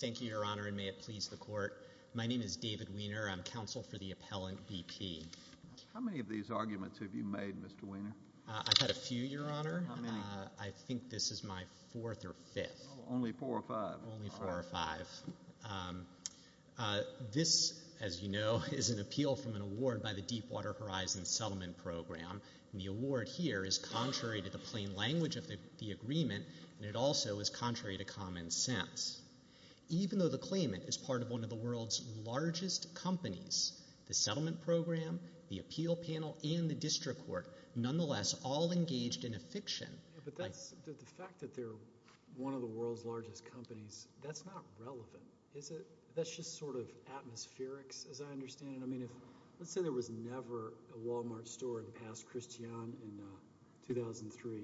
Thank you, Your Honor, and may it please the Court. My name is David Wiener. I'm counsel for the appellant, B.P. How many of these arguments have you made, Mr. Wiener? I've had a few, Your Honor. How many? I think this is my fourth or fifth. Only four or five? Only four or five. This, as you know, is an appeal from an award by the Deepwater Horizon Settlement Program. And the award here is contrary to the plain language of the agreement, and it also is contrary to common sense. Even though the claimant is part of one of the world's largest companies, the settlement program, the appeal panel, and the district court, nonetheless, all engaged in a fiction. But the fact that they're one of the world's largest companies, that's not relevant, is it? That's just sort of atmospherics, as I understand it. I mean, let's say there was never a Walmart store in past Christiane in 2003,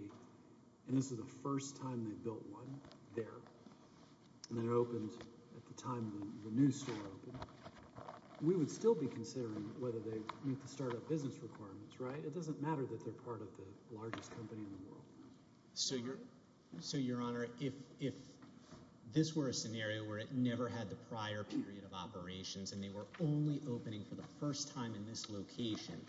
and this is the first time they built one there, and then it opened at the time the new store opened. We would still be considering whether they meet the startup business requirements, right? It doesn't matter that they're part of the largest company in the world. So, Your Honor, if this were a scenario where it never had the prior period of operations and they were only opening for the first time in this location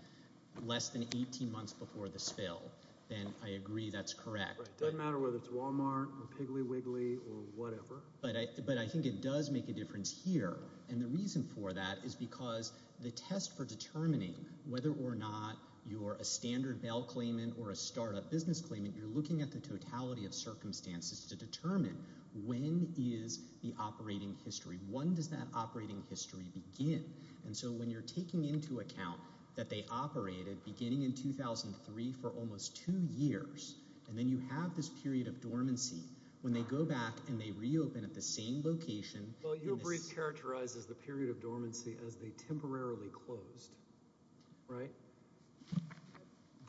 less than 18 months before the spill, then I agree that's correct. It doesn't matter whether it's Walmart or Piggly Wiggly or whatever. But I think it does make a difference here, and the reason for that is because the test for determining whether or not you're a standard bail claimant or a startup business claimant, you're looking at the totality of circumstances to determine when is the operating history. When does that operating history begin? And so when you're taking into account that they operated beginning in 2003 for almost two years, and then you have this period of dormancy, when they go back and they reopen at the same location— Well, your brief characterizes the period of dormancy as they temporarily closed, right?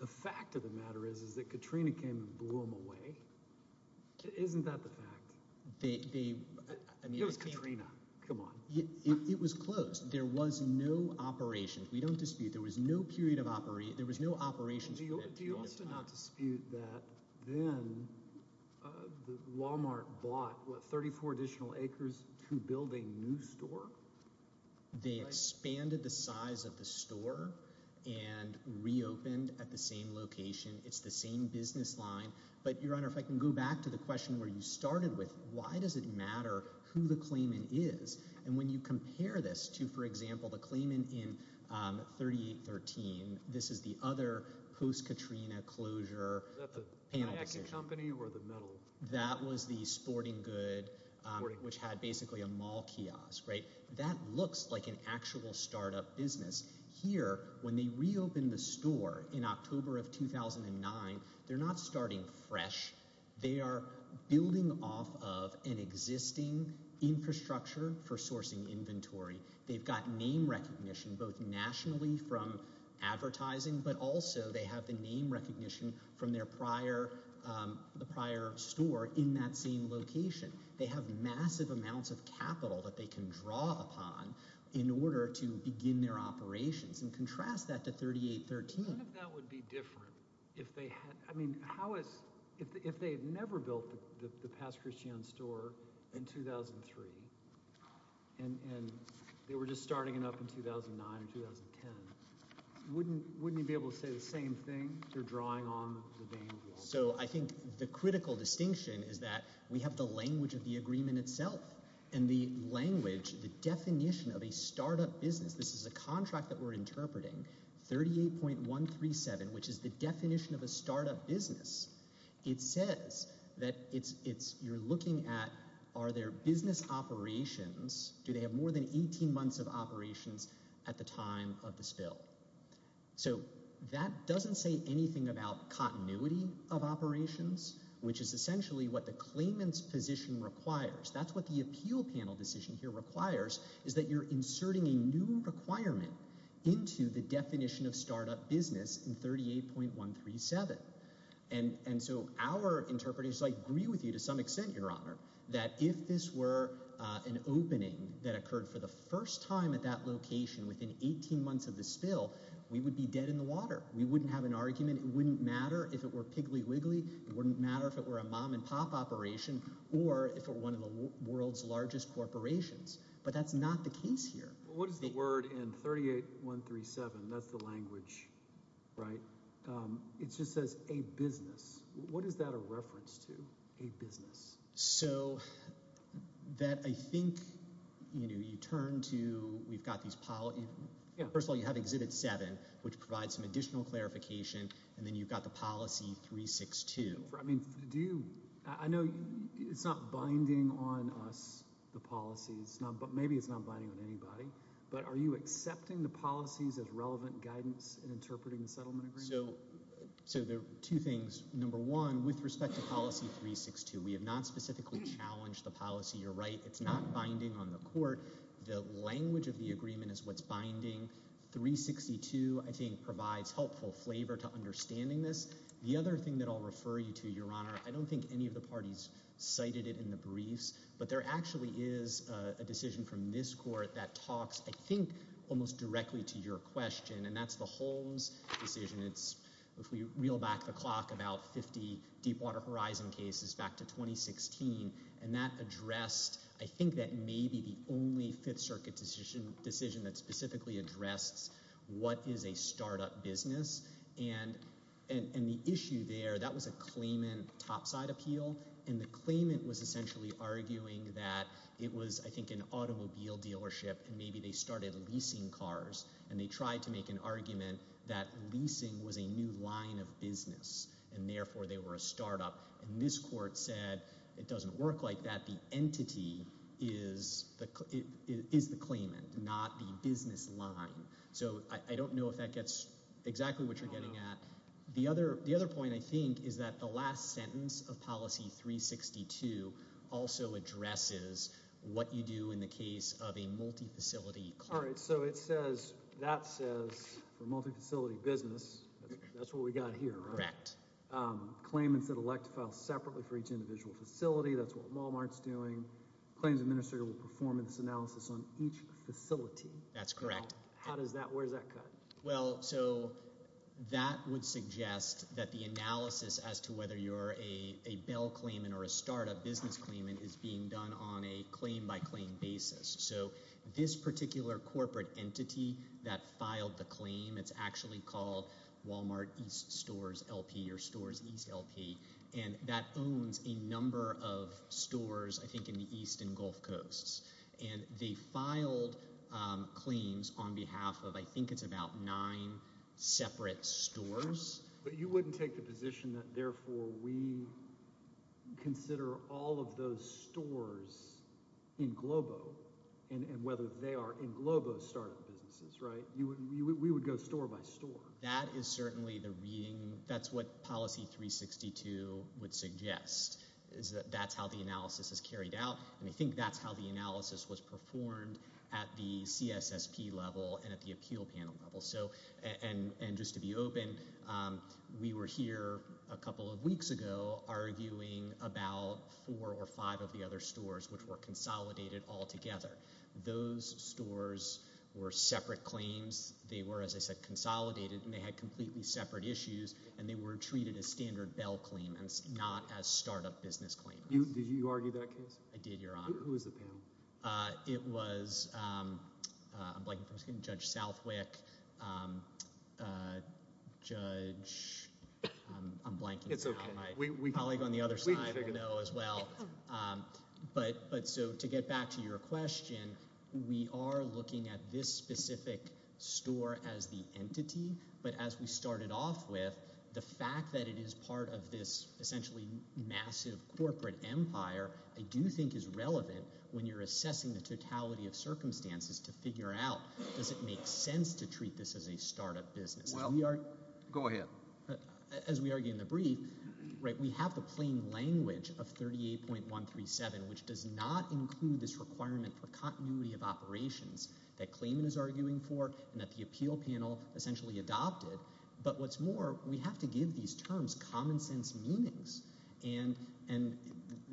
The fact of the matter is that Katrina came and blew them away. Isn't that the fact? It was Katrina. Come on. It was closed. There was no operation. We don't dispute. There was no period of operation. There was no operations for that period of time. Do you also not dispute that then Walmart bought, what, 34 additional acres to build a new store? They expanded the size of the store and reopened at the same location. It's the same business line. But, Your Honor, if I can go back to the question where you started with, why does it matter who the claimant is? And when you compare this to, for example, the claimant in 3813, this is the other post-Katrina closure panel decision. Is that the Nike company or the metal? That was the Sporting Good, which had basically a mall kiosk, right? That looks like an actual startup business. Here, when they reopened the store in October of 2009, they're not starting fresh. They are building off of an existing infrastructure for sourcing inventory. They've got name recognition both nationally from advertising, but also they have the name recognition from their prior store in that same location. They have massive amounts of capital that they can draw upon in order to begin their operations. And contrast that to 3813. What if that would be different? I mean, if they had never built the Past Christiane store in 2003 and they were just starting it up in 2009 or 2010, wouldn't you be able to say the same thing? They're drawing on the name. So I think the critical distinction is that we have the language of the agreement itself and the language, the definition of a startup business. This is a contract that we're interpreting, 38.137, which is the definition of a startup business. It says that you're looking at are there business operations, do they have more than 18 months of operations at the time of the spill? So that doesn't say anything about continuity of operations, which is essentially what the claimant's position requires. That's what the appeal panel decision here requires is that you're inserting a new requirement into the definition of startup business in 38.137. And so our interpreters agree with you to some extent, Your Honor, that if this were an opening that occurred for the first time at that location within 18 months of the spill, we would be dead in the water. We wouldn't have an argument. It wouldn't matter if it were Piggly Wiggly. It wouldn't matter if it were a mom-and-pop operation or if it were one of the world's largest corporations. But that's not the case here. What is the word in 38.137? That's the language, right? It just says a business. What is that a reference to, a business? So that I think, you know, you turn to we've got these policies. First of all, you have Exhibit 7, which provides some additional clarification, and then you've got the Policy 362. I know it's not binding on us, the policies. Maybe it's not binding on anybody. But are you accepting the policies as relevant guidance in interpreting the settlement agreement? So there are two things. Number one, with respect to Policy 362, we have not specifically challenged the policy. You're right, it's not binding on the court. The language of the agreement is what's binding. 362, I think, provides helpful flavor to understanding this. The other thing that I'll refer you to, Your Honor, I don't think any of the parties cited it in the briefs, but there actually is a decision from this court that talks, I think, almost directly to your question, and that's the Holmes decision. If we reel back the clock, about 50 Deepwater Horizon cases back to 2016, and that addressed, I think, that may be the only Fifth Circuit decision that specifically addressed what is a startup business. And the issue there, that was a claimant topside appeal, and the claimant was essentially arguing that it was, I think, an automobile dealership, and maybe they started leasing cars, and they tried to make an argument that leasing was a new line of business, and therefore they were a startup. And this court said it doesn't work like that. The entity is the claimant, not the business line. So I don't know if that gets exactly what you're getting at. The other point, I think, is that the last sentence of Policy 362 also addresses what you do in the case of a multifacility client. All right, so that says, for multifacility business, that's what we got here, right? Correct. Claimants that elect to file separately for each individual facility, that's what Walmart's doing. Claims administrator will perform an analysis on each facility. That's correct. Where does that cut? Well, so that would suggest that the analysis as to whether you're a Bell claimant or a startup business claimant is being done on a claim-by-claim basis. So this particular corporate entity that filed the claim, it's actually called Walmart East Stores LP or Stores East LP, and that owns a number of stores, I think, in the East and Gulf Coasts. And they filed claims on behalf of I think it's about nine separate stores. But you wouldn't take the position that, therefore, we consider all of those stores in Globo and whether they are in Globo startup businesses, right? We would go store by store. That is certainly the reading. That's what Policy 362 would suggest is that that's how the analysis is carried out, and I think that's how the analysis was performed at the CSSP level and at the appeal panel level. And just to be open, we were here a couple of weeks ago arguing about four or five of the other stores which were consolidated altogether. Those stores were separate claims. They were, as I said, consolidated, and they had completely separate issues, and they were treated as standard Bell claimants, not as startup business claimants. Did you argue that case? I did, Your Honor. Who was the panel? It was, I'm blanking for a second, Judge Southwick, Judge, I'm blanking now. My colleague on the other side will know as well. But so to get back to your question, we are looking at this specific store as the entity, but as we started off with, the fact that it is part of this essentially massive corporate empire, I do think is relevant when you're assessing the totality of circumstances to figure out, does it make sense to treat this as a startup business? Well, go ahead. As we argue in the brief, we have the plain language of 38.137, which does not include this requirement for continuity of operations that claimant is arguing for and that the appeal panel essentially adopted. But what's more, we have to give these terms common sense meanings, and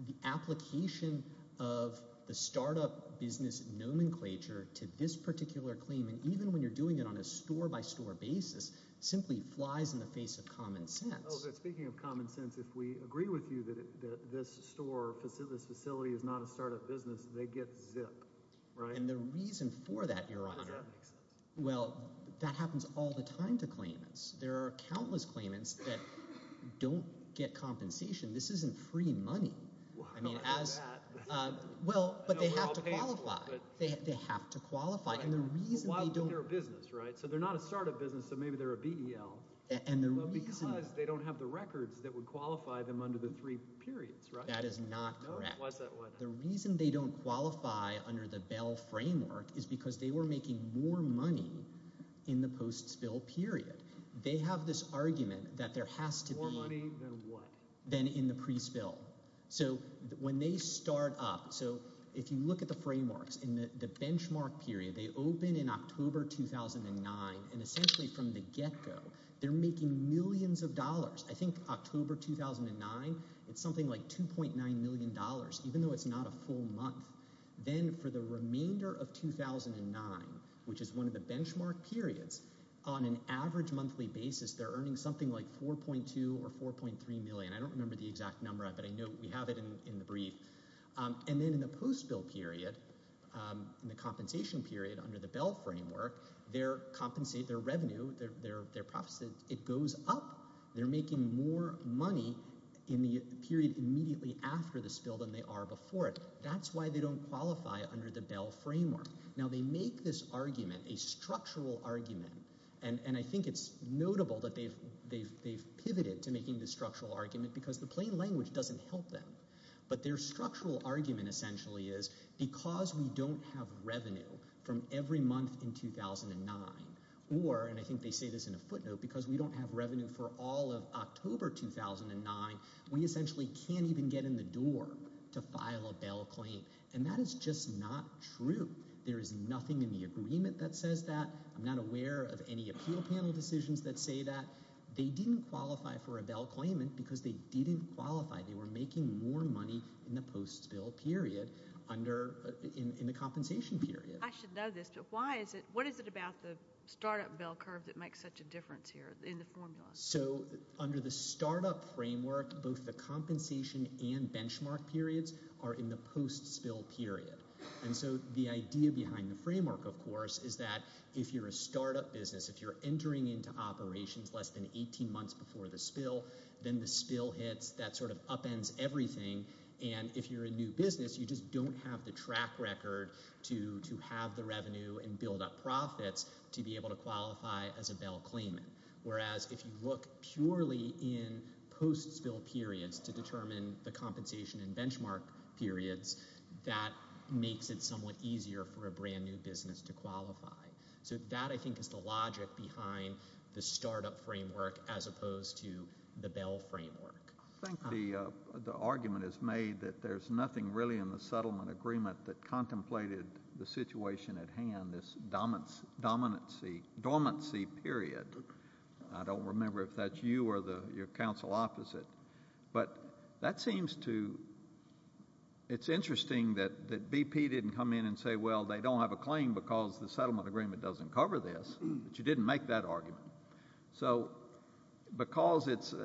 the application of the startup business nomenclature to this particular claimant, even when you're doing it on a store-by-store basis, simply flies in the face of common sense. Oh, but speaking of common sense, if we agree with you that this facility is not a startup business, they get zipped, right? And the reason for that, Your Honor, well, that happens all the time to claimants. There are countless claimants that don't get compensation. This isn't free money. I mean, as – well, but they have to qualify. They have to qualify. And the reason they don't – Well, they're a business, right? So they're not a startup business, so maybe they're a BEL. And the reason – Well, because they don't have the records that would qualify them under the three periods, right? That is not correct. The reason they don't qualify under the BEL framework is because they were making more money in the post-spill period. They have this argument that there has to be – More money than what? Than in the pre-spill. So when they start up – so if you look at the frameworks, in the benchmark period, they open in October 2009. And essentially from the get-go, they're making millions of dollars. I think October 2009, it's something like $2.9 million, even though it's not a full month. Then for the remainder of 2009, which is one of the benchmark periods, on an average monthly basis, they're earning something like $4.2 or $4.3 million. I don't remember the exact number, but I know we have it in the brief. And then in the post-spill period, in the compensation period under the BEL framework, their revenue, their profits, it goes up. They're making more money in the period immediately after the spill than they are before it. That's why they don't qualify under the BEL framework. Now they make this argument, a structural argument, and I think it's notable that they've pivoted to making this structural argument because the plain language doesn't help them. But their structural argument essentially is because we don't have revenue from every month in 2009 or – and I think they say this in a footnote – because we don't have revenue for all of October 2009, we essentially can't even get in the door to file a BEL claim. And that is just not true. There is nothing in the agreement that says that. I'm not aware of any appeal panel decisions that say that. They didn't qualify for a BEL claimant because they didn't qualify. They were making more money in the post-spill period under – in the compensation period. I should know this, but why is it – what is it about the startup BEL curve that makes such a difference here in the formula? So under the startup framework, both the compensation and benchmark periods are in the post-spill period. And so the idea behind the framework, of course, is that if you're a startup business, if you're entering into operations less than 18 months before the spill, then the spill hits. That sort of upends everything. And if you're a new business, you just don't have the track record to have the revenue and build up profits to be able to qualify as a BEL claimant. Whereas if you look purely in post-spill periods to determine the compensation and benchmark periods, that makes it somewhat easier for a brand-new business to qualify. So that, I think, is the logic behind the startup framework as opposed to the BEL framework. I think the argument is made that there's nothing really in the settlement agreement that contemplated the situation at hand, in this dormancy period. I don't remember if that's you or your counsel opposite. But that seems to – it's interesting that BP didn't come in and say, well, they don't have a claim because the settlement agreement doesn't cover this. But you didn't make that argument. So because it's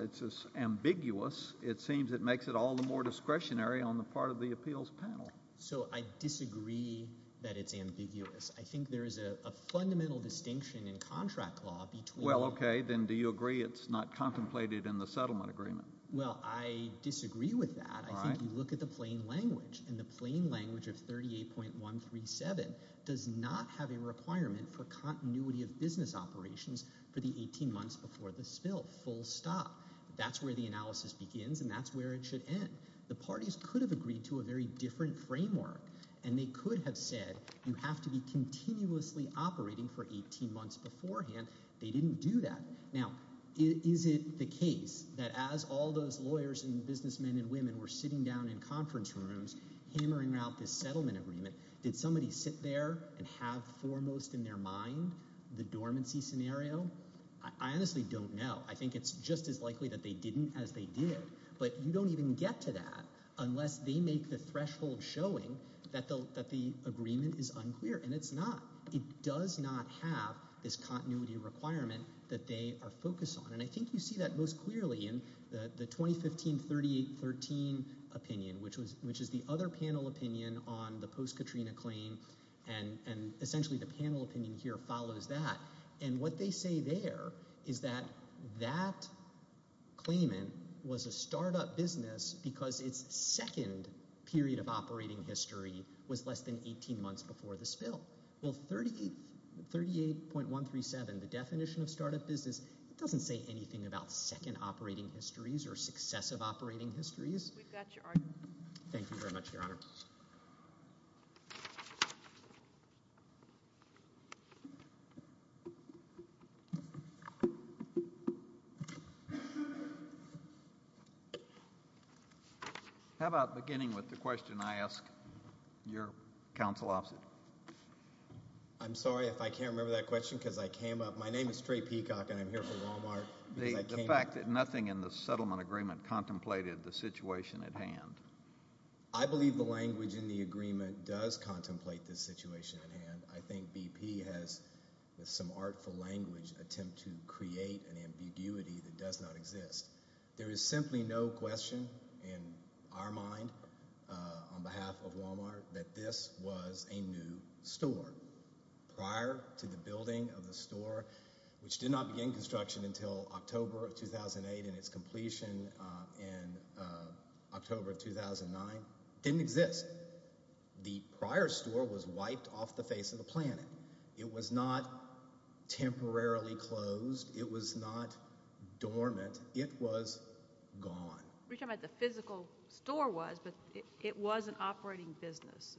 ambiguous, it seems it makes it all the more discretionary on the part of the appeals panel. So I disagree that it's ambiguous. I think there is a fundamental distinction in contract law between – Well, okay. Then do you agree it's not contemplated in the settlement agreement? Well, I disagree with that. I think you look at the plain language, and the plain language of 38.137 does not have a requirement for continuity of business operations for the 18 months before the spill, full stop. That's where the analysis begins and that's where it should end. The parties could have agreed to a very different framework, and they could have said you have to be continuously operating for 18 months beforehand. They didn't do that. Now, is it the case that as all those lawyers and businessmen and women were sitting down in conference rooms hammering out this settlement agreement, did somebody sit there and have foremost in their mind the dormancy scenario? I honestly don't know. I think it's just as likely that they didn't as they did. But you don't even get to that unless they make the threshold showing that the agreement is unclear, and it's not. It does not have this continuity requirement that they are focused on, and I think you see that most clearly in the 2015 38.13 opinion, which is the other panel opinion on the post-Katrina claim, and essentially the panel opinion here follows that. And what they say there is that that claimant was a startup business because its second period of operating history was less than 18 months before the spill. Well, 38.137, the definition of startup business, it doesn't say anything about second operating histories or successive operating histories. We've got your argument. Thank you very much, Your Honor. Thank you. How about beginning with the question I ask your counsel officer? I'm sorry if I can't remember that question because I came up. My name is Trey Peacock, and I'm here for Walmart. The fact that nothing in the settlement agreement contemplated the situation at hand. I believe the language in the agreement does contemplate the situation at hand. I think BP has, with some artful language, attempted to create an ambiguity that does not exist. There is simply no question in our mind on behalf of Walmart that this was a new store. Prior to the building of the store, which did not begin construction until October of 2008 and its completion in October of 2009, didn't exist. The prior store was wiped off the face of the planet. It was not temporarily closed. It was not dormant. It was gone. You're talking about the physical store was, but it was an operating business.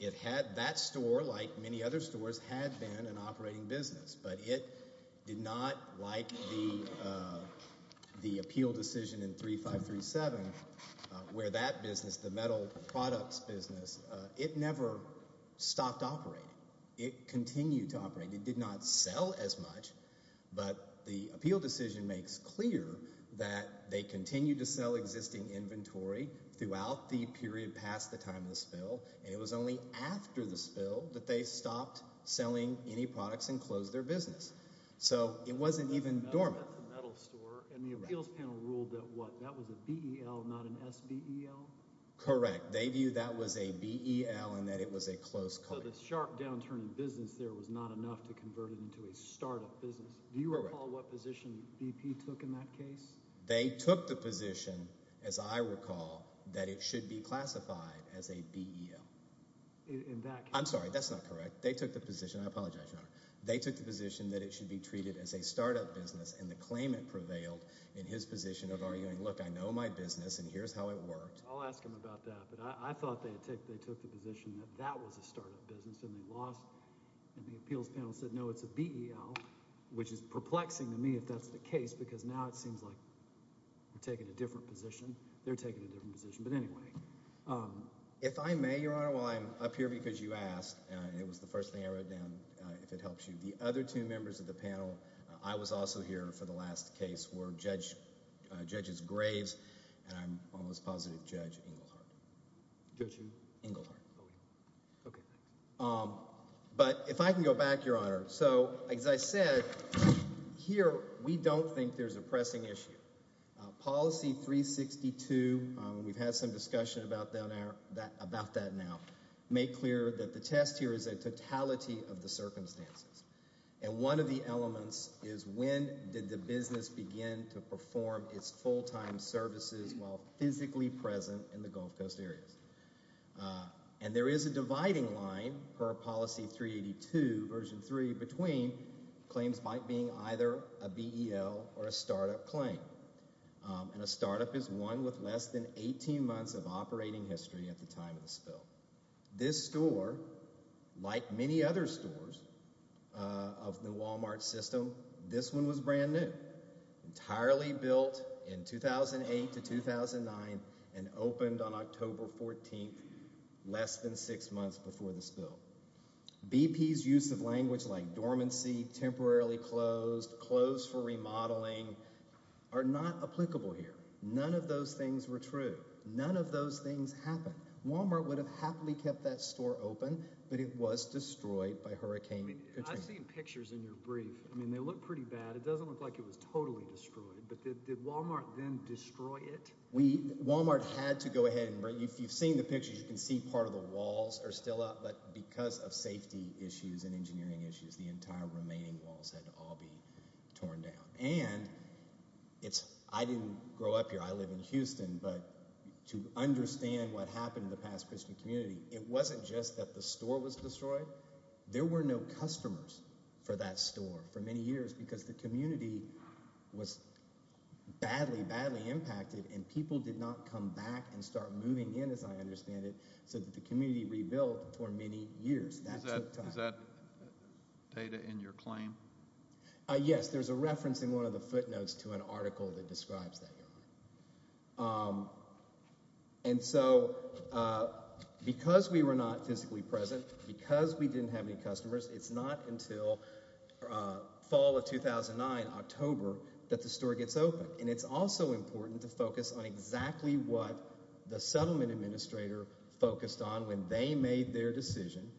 It had that store, like many other stores, had been an operating business, but it did not like the appeal decision in 3537 where that business, the metal products business, it never stopped operating. It continued to operate. It did not sell as much, but the appeal decision makes clear that they continued to sell existing inventory throughout the period past the time of the spill, and it was only after the spill that they stopped selling any products and closed their business. So it wasn't even dormant. And the appeals panel ruled that what? That was a BEL, not an SBEL? Correct. They viewed that was a BEL and that it was a close call. So the sharp downturn in business there was not enough to convert it into a startup business. Correct. Do you recall what position BP took in that case? They took the position, as I recall, that it should be classified as a BEL. That's not correct. They took the position. I apologize, Your Honor. They took the position that it should be treated as a startup business, and the claimant prevailed in his position of arguing, look, I know my business, and here's how it worked. I'll ask him about that. But I thought they took the position that that was a startup business, and they lost. And the appeals panel said, no, it's a BEL, which is perplexing to me if that's the case because now it seems like we're taking a different position. They're taking a different position. But anyway. If I may, Your Honor, while I'm up here because you asked, and it was the first thing I wrote down, if it helps you, the other two members of the panel, I was also here for the last case, were Judges Graves, and I'm almost positive Judge Engelhardt. Judge who? Engelhardt. Okay. But if I can go back, Your Honor. So, as I said, here we don't think there's a pressing issue. Policy 362, we've had some discussion about that now, made clear that the test here is a totality of the circumstances. And one of the elements is when did the business begin to perform its full-time services while physically present in the Gulf Coast areas? And there is a dividing line per Policy 382, Version 3, between claims being either a BEL or a startup claim. And a startup is one with less than 18 months of operating history at the time of the spill. This store, like many other stores of the Walmart system, this one was brand new, entirely built in 2008 to 2009, and opened on October 14th, less than six months before the spill. BP's use of language like dormancy, temporarily closed, closed for remodeling, are not applicable here. None of those things were true. None of those things happened. Walmart would have happily kept that store open, but it was destroyed by Hurricane Katrina. I've seen pictures in your brief. I mean, they look pretty bad. It doesn't look like it was totally destroyed. But did Walmart then destroy it? Walmart had to go ahead. If you've seen the pictures, you can see part of the walls are still up. But because of safety issues and engineering issues, the entire remaining walls had to all be torn down. And I didn't grow up here. I live in Houston. But to understand what happened to the past Christian community, it wasn't just that the store was destroyed. There were no customers for that store for many years because the community was badly, badly impacted, and people did not come back and start moving in, as I understand it, so that the community rebuilt for many years. That took time. Is that data in your claim? Yes. There's a reference in one of the footnotes to an article that describes that. And so because we were not physically present, because we didn't have any customers, it's not until fall of 2009, October, that the store gets open. And it's also important to focus on exactly what the settlement administrator focused on when they made their decision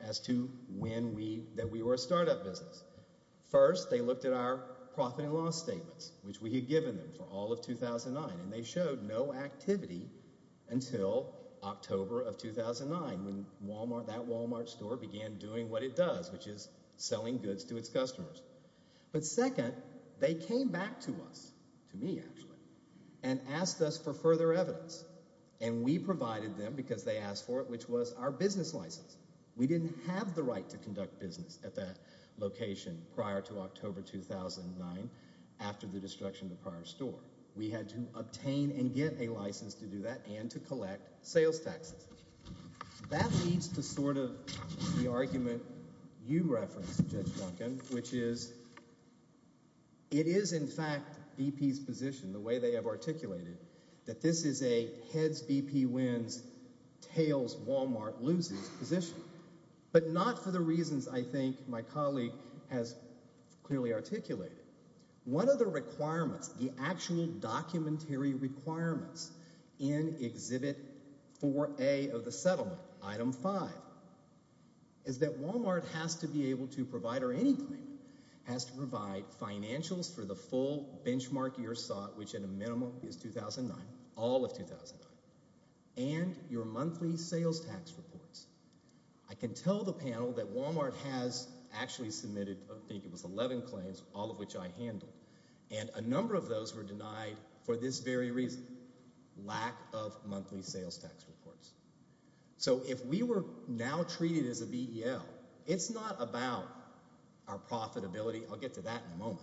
as to when we were a startup business. First, they looked at our profit and loss statements, which we had given them for all of 2009, and they showed no activity until October of 2009 when that Walmart store began doing what it does, which is selling goods to its customers. But second, they came back to us, to me actually, and asked us for further evidence. And we provided them, because they asked for it, which was our business license. We didn't have the right to conduct business at that location prior to October 2009 after the destruction of the prior store. We had to obtain and get a license to do that and to collect sales taxes. That leads to sort of the argument you referenced, Judge Duncan, which is it is, in fact, BP's position, the way they have articulated it, that this is a heads, BP wins, tails, Walmart loses position, but not for the reasons I think my colleague has clearly articulated. One of the requirements, the actual documentary requirements, in Exhibit 4A of the settlement, Item 5, is that Walmart has to be able to provide, or any claimant has to provide, financials for the full benchmark year sought, which at a minimum is 2009, all of 2009, and your monthly sales tax reports. I can tell the panel that Walmart has actually submitted, I think it was 11 claims, all of which I handled, and a number of those were denied for this very reason, lack of monthly sales tax reports. So if we were now treated as a BEL, it's not about our profitability. I'll get to that in a moment.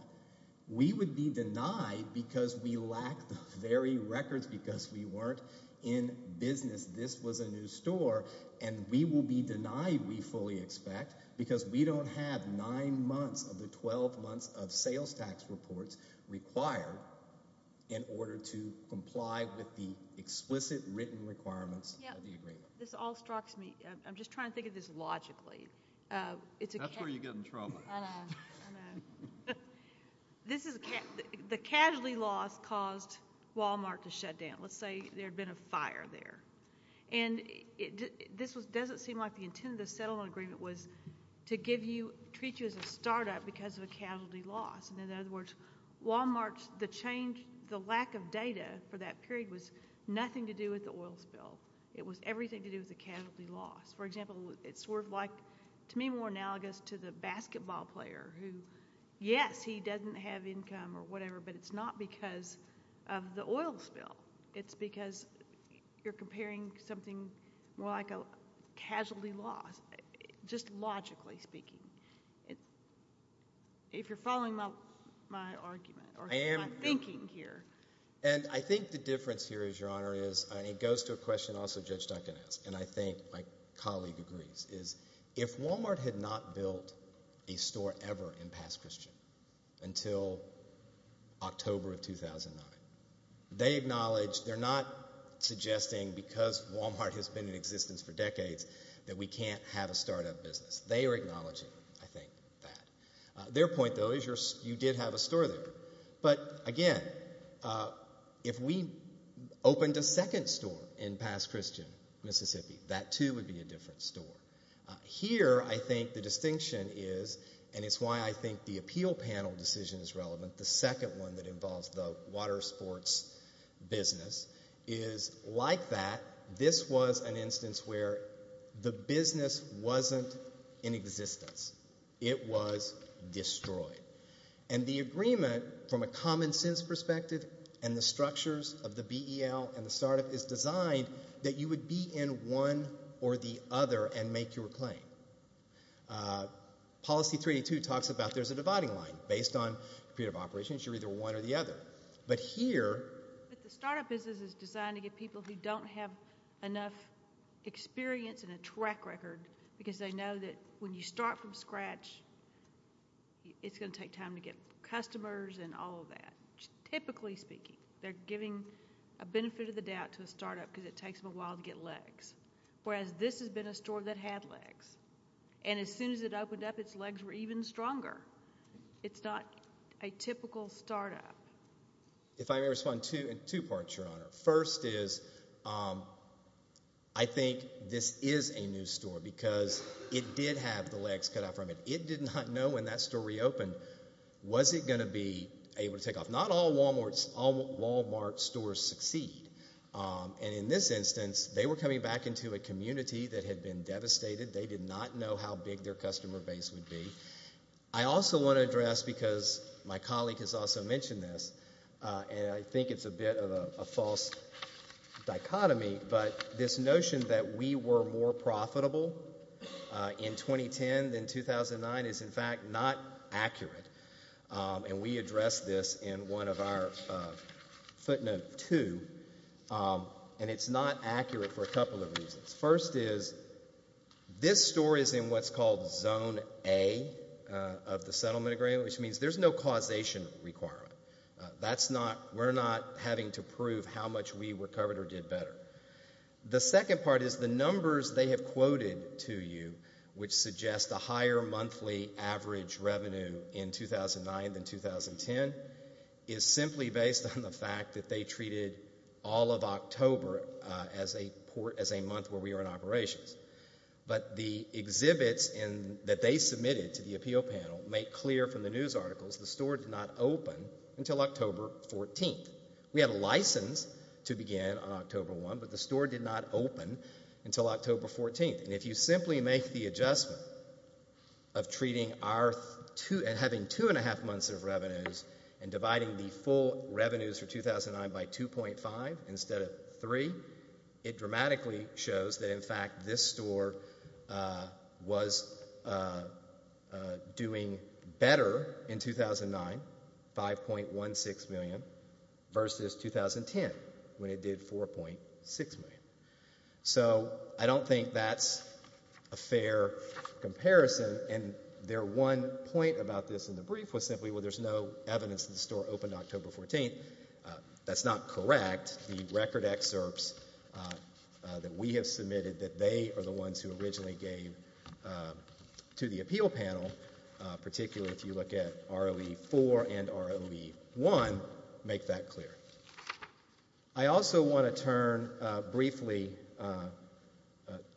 We would be denied because we lack the very records because we weren't in business. This was a new store, and we will be denied, we fully expect, because we don't have nine months of the 12 months of sales tax reports required in order to comply with the explicit written requirements of the agreement. This all strikes me. I'm just trying to think of this logically. That's where you get in trouble. I know. The casualty loss caused Walmart to shut down. Let's say there had been a fire there, and this doesn't seem like the intent of the settlement agreement was to give you, treat you as a startup because of a casualty loss. In other words, Walmart's lack of data for that period was nothing to do with the oil spill. It was everything to do with the casualty loss. For example, it's sort of like, to me, more analogous to the basketball player who, yes, he doesn't have income or whatever, but it's not because of the oil spill. It's because you're comparing something more like a casualty loss, just logically speaking. If you're following my argument or my thinking here. And I think the difference here is, Your Honor, is it goes to a question also Judge Duncan asked, and I think my colleague agrees, is if Walmart had not built a store ever in Past Christian until October of 2009, they acknowledged, they're not suggesting because Walmart has been in existence for decades that we can't have a startup business. They are acknowledging, I think, that. Their point, though, is you did have a store there. But, again, if we opened a second store in Past Christian, Mississippi, that, too, would be a different store. Here, I think the distinction is, and it's why I think the appeal panel decision is relevant, the second one that involves the water sports business is like that. This was an instance where the business wasn't in existence. It was destroyed. And the agreement, from a common-sense perspective and the structures of the BEL and the startup, is designed that you would be in one or the other and make your claim. Policy 382 talks about there's a dividing line. Based on period of operations, you're either one or the other. But here. But the startup business is designed to get people who don't have enough experience and a track record because they know that when you start from scratch, it's going to take time to get customers and all of that. Typically speaking, they're giving a benefit of the doubt to a startup because it takes them a while to get legs, whereas this has been a store that had legs. And as soon as it opened up, its legs were even stronger. It's not a typical startup. If I may respond in two parts, Your Honor. First is I think this is a new store because it did have the legs cut out from it. It did not know when that store reopened was it going to be able to take off. Not all Walmart stores succeed. And in this instance, they were coming back into a community that had been devastated. They did not know how big their customer base would be. I also want to address because my colleague has also mentioned this, and I think it's a bit of a false dichotomy, but this notion that we were more profitable in 2010 than 2009 is, in fact, not accurate. And we addressed this in one of our footnote two. And it's not accurate for a couple of reasons. First is this store is in what's called zone A of the settlement agreement, which means there's no causation requirement. We're not having to prove how much we recovered or did better. The second part is the numbers they have quoted to you, which suggest a higher monthly average revenue in 2009 than 2010, is simply based on the fact that they treated all of October as a month where we were in operations. But the exhibits that they submitted to the appeal panel make clear from the news articles the store did not open until October 14th. We had a license to begin on October 1, but the store did not open until October 14th. And if you simply make the adjustment of having two and a half months of revenues and dividing the full revenues for 2009 by 2.5 instead of 3, it dramatically shows that, in fact, this store was doing better in 2009, 5.16 million, versus 2010 when it did 4.6 million. So I don't think that's a fair comparison. And their one point about this in the brief was simply, well, there's no evidence that the store opened October 14th. That's not correct. The record excerpts that we have submitted that they are the ones who originally gave to the appeal panel, particularly if you look at ROE-4 and ROE-1, make that clear. I also want to turn briefly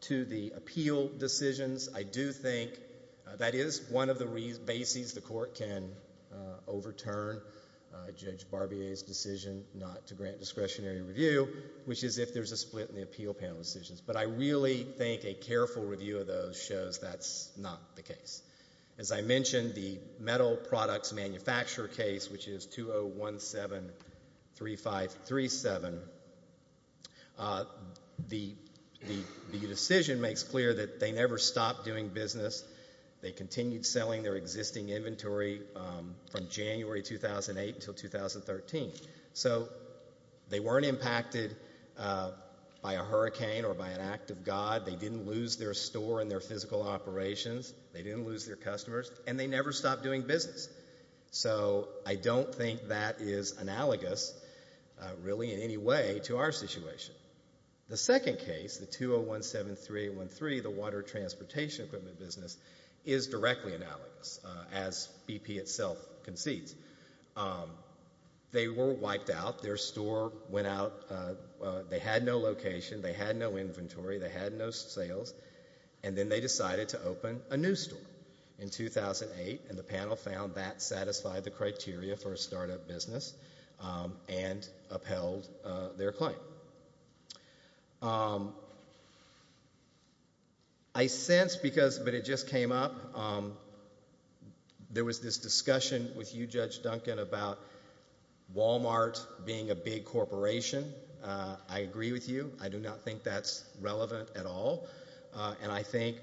to the appeal decisions. I do think that is one of the bases the court can overturn Judge Barbier's decision not to grant discretionary review, which is if there's a split in the appeal panel decisions. But I really think a careful review of those shows that's not the case. As I mentioned, the metal products manufacturer case, which is 2017-3537, the decision makes clear that they never stopped doing business. They continued selling their existing inventory from January 2008 until 2013. So they weren't impacted by a hurricane or by an act of God. They didn't lose their store and their physical operations. They didn't lose their customers. And they never stopped doing business. So I don't think that is analogous really in any way to our situation. The second case, the 2017-3813, the water transportation equipment business, is directly analogous, as BP itself concedes. They were wiped out. Their store went out. They had no location. They had no inventory. They had no sales. And then they decided to open a new store in 2008, and the panel found that satisfied the criteria for a startup business and upheld their claim. I sense because, but it just came up, there was this discussion with you, Judge Duncan, about Walmart being a big corporation. I agree with you. I do not think that's relevant at all. And I think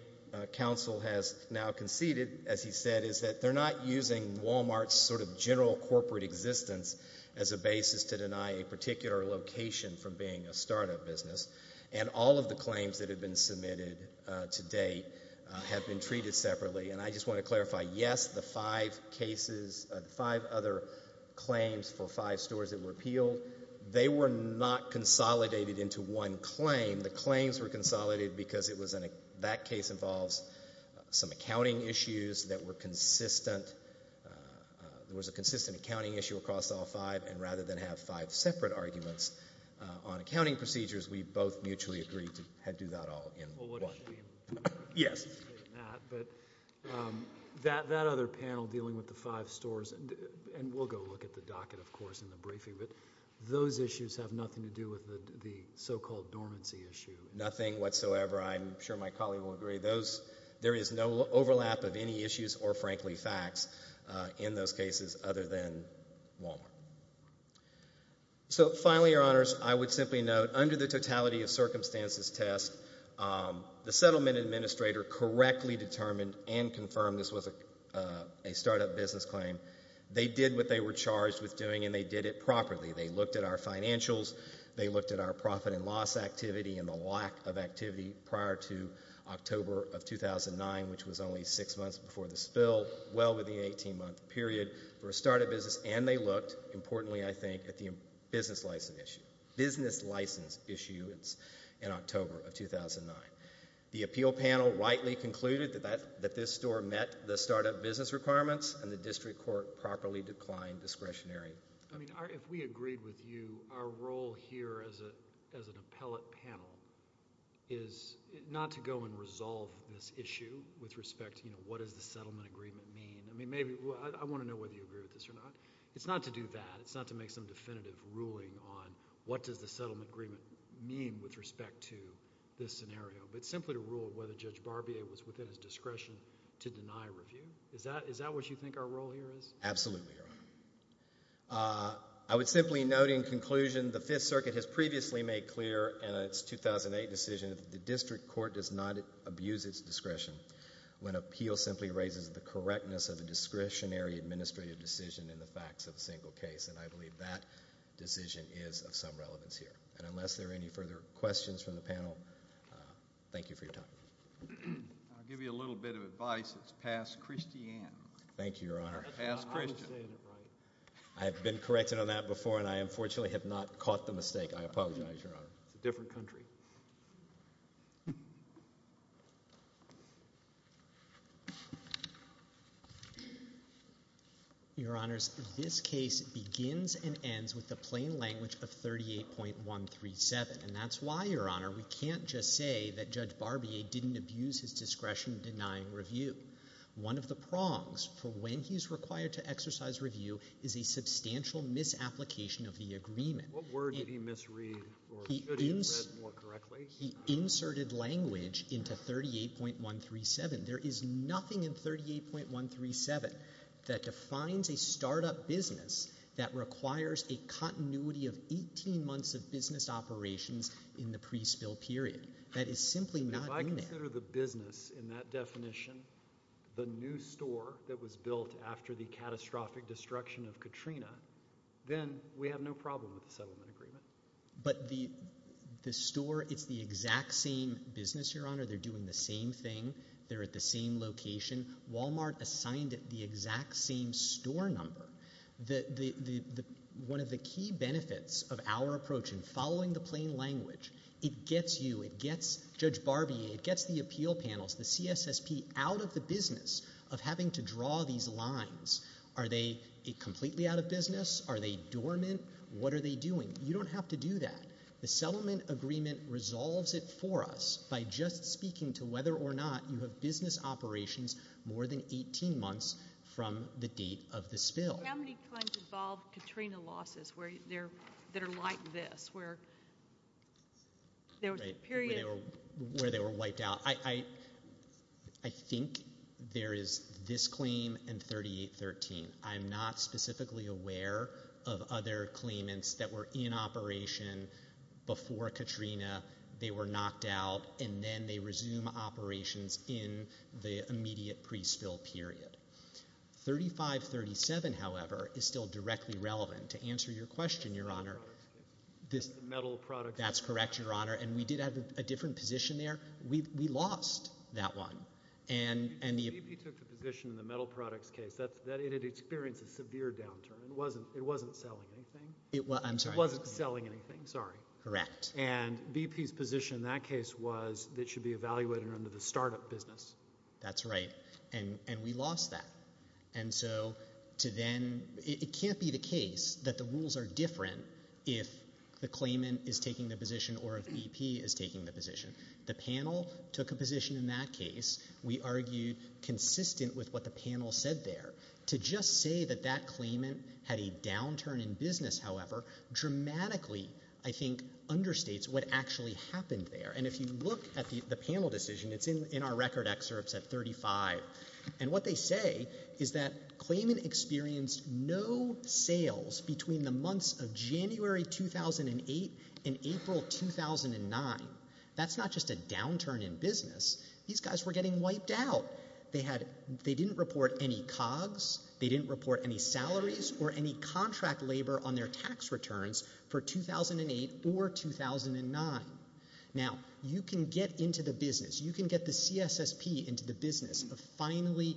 counsel has now conceded, as he said, is that they're not using Walmart's sort of general corporate existence as a basis to deny a particular location from being a startup business. And all of the claims that have been submitted to date have been treated separately. And I just want to clarify, yes, the five cases, the five other claims for five stores that were appealed, they were not consolidated into one claim. The claims were consolidated because that case involves some accounting issues that were consistent. There was a consistent accounting issue across all five, and rather than have five separate arguments on accounting procedures, we both mutually agreed to do that all in one. Yes. But that other panel dealing with the five stores, and we'll go look at the docket, of course, in the briefing, but those issues have nothing to do with the so-called dormancy issue. Nothing whatsoever. I'm sure my colleague will agree. There is no overlap of any issues or, frankly, facts in those cases other than Walmart. So finally, Your Honors, I would simply note, under the totality of circumstances test, the settlement administrator correctly determined and confirmed this was a startup business claim. They did what they were charged with doing, and they did it properly. They looked at our financials. They looked at our profit and loss activity and the lack of activity prior to October of 2009, which was only six months before the spill, well within an 18-month period for a startup business. And they looked, importantly, I think, at the business license issue in October of 2009. The appeal panel rightly concluded that this store met the startup business requirements, and the district court properly declined discretionary. I mean, if we agreed with you, our role here as an appellate panel is not to go and resolve this issue with respect to, you know, what does the settlement agreement mean. I mean, maybe I want to know whether you agree with this or not. It's not to do that. It's not to make some definitive ruling on what does the settlement agreement mean with respect to this scenario, but simply to rule whether Judge Barbier was within his discretion to deny review. Is that what you think our role here is? Absolutely, Your Honor. I would simply note in conclusion the Fifth Circuit has previously made clear in its 2008 decision that the district court does not abuse its discretion when appeal simply raises the correctness of a discretionary administrative decision in the facts of a single case, and I believe that decision is of some relevance here. And unless there are any further questions from the panel, thank you for your time. I'll give you a little bit of advice. It's past Christian. Thank you, Your Honor. Past Christian. I have been corrected on that before, and I unfortunately have not caught the mistake. I apologize, Your Honor. It's a different country. Your Honors, this case begins and ends with the plain language of 38.137, and that's why, Your Honor, we can't just say that Judge Barbier didn't abuse his discretion in denying review. One of the prongs for when he's required to exercise review is a substantial misapplication of the agreement. What word did he misread or should he have read more correctly? He inserted language into 38.137. There is nothing in 38.137 that defines a startup business that requires a continuity of 18 months of business operations in the pre-spill period. That is simply not in there. If I consider the business in that definition the new store that was built after the catastrophic destruction of Katrina, then we have no problem with the settlement agreement. But the store, it's the exact same business, Your Honor. They're doing the same thing. They're at the same location. Walmart assigned it the exact same store number. One of the key benefits of our approach in following the plain language, it gets you, it gets Judge Barbier, it gets the appeal panels, the CSSP, out of the business of having to draw these lines. Are they completely out of business? Are they dormant? What are they doing? You don't have to do that. The settlement agreement resolves it for us by just speaking to whether or not you have business operations more than 18 months from the date of the spill. How many claims involve Katrina losses that are like this, where there was a period? Where they were wiped out. I think there is this claim and 3813. I'm not specifically aware of other claimants that were in operation before Katrina, they were knocked out, and then they resume operations in the immediate pre-spill period. 3537, however, is still directly relevant. To answer your question, Your Honor, that's correct, Your Honor, and we did have a different position there. We lost that one. BP took the position in the metal products case that it had experienced a severe downturn. It wasn't selling anything. It wasn't selling anything, sorry. Correct. And BP's position in that case was it should be evaluated under the startup business. That's right, and we lost that. And so to then, it can't be the case that the rules are different if the claimant is taking the position or if BP is taking the position. The panel took a position in that case. We argued consistent with what the panel said there. To just say that that claimant had a downturn in business, however, dramatically, I think, understates what actually happened there, and if you look at the panel decision, it's in our record excerpts at 35, and what they say is that claimant experienced no sales between the months of January 2008 and April 2009. That's not just a downturn in business. These guys were getting wiped out. They didn't report any COGS, they didn't report any salaries or any contract labor on their tax returns for 2008 or 2009. Now, you can get into the business. You can get the CSSP into the business of finally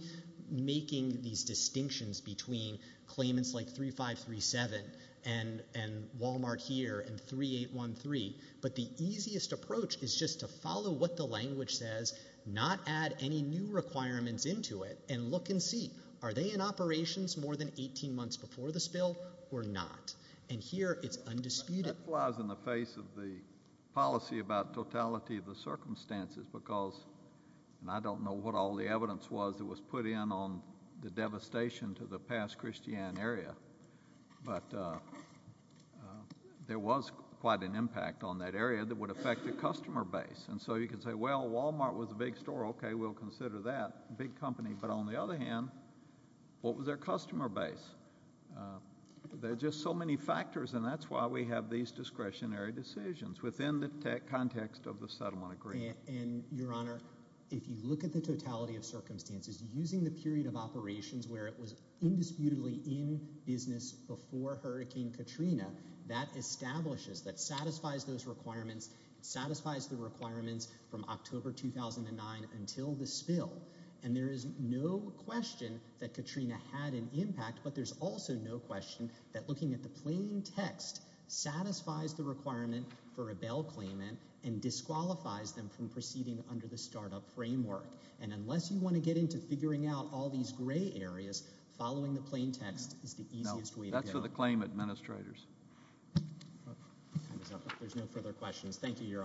making these distinctions between claimants like 3537 and Walmart here and 3813, but the easiest approach is just to follow what the language says, not add any new requirements into it, and look and see, are they in operations more than 18 months before the spill or not? And here it's undisputed. That flies in the face of the policy about totality of the circumstances because I don't know what all the evidence was that was put in on the devastation to the past Christiane area, but there was quite an impact on that area that would affect the customer base. And so you can say, well, Walmart was a big store. Okay, we'll consider that a big company. But on the other hand, what was their customer base? There are just so many factors, and that's why we have these discretionary decisions within the context of the settlement agreement. And, Your Honor, if you look at the totality of circumstances, using the period of operations where it was indisputably in business before Hurricane Katrina, that establishes, that satisfies those requirements, satisfies the requirements from October 2009 until the spill. And there is no question that Katrina had an impact, but there's also no question that looking at the plain text satisfies the requirement for a bail claim and disqualifies them from proceeding under the startup framework. And unless you want to get into figuring out all these gray areas, following the plain text is the easiest way to go. That's for the claim administrators. There's no further questions. Thank you, Your Honors.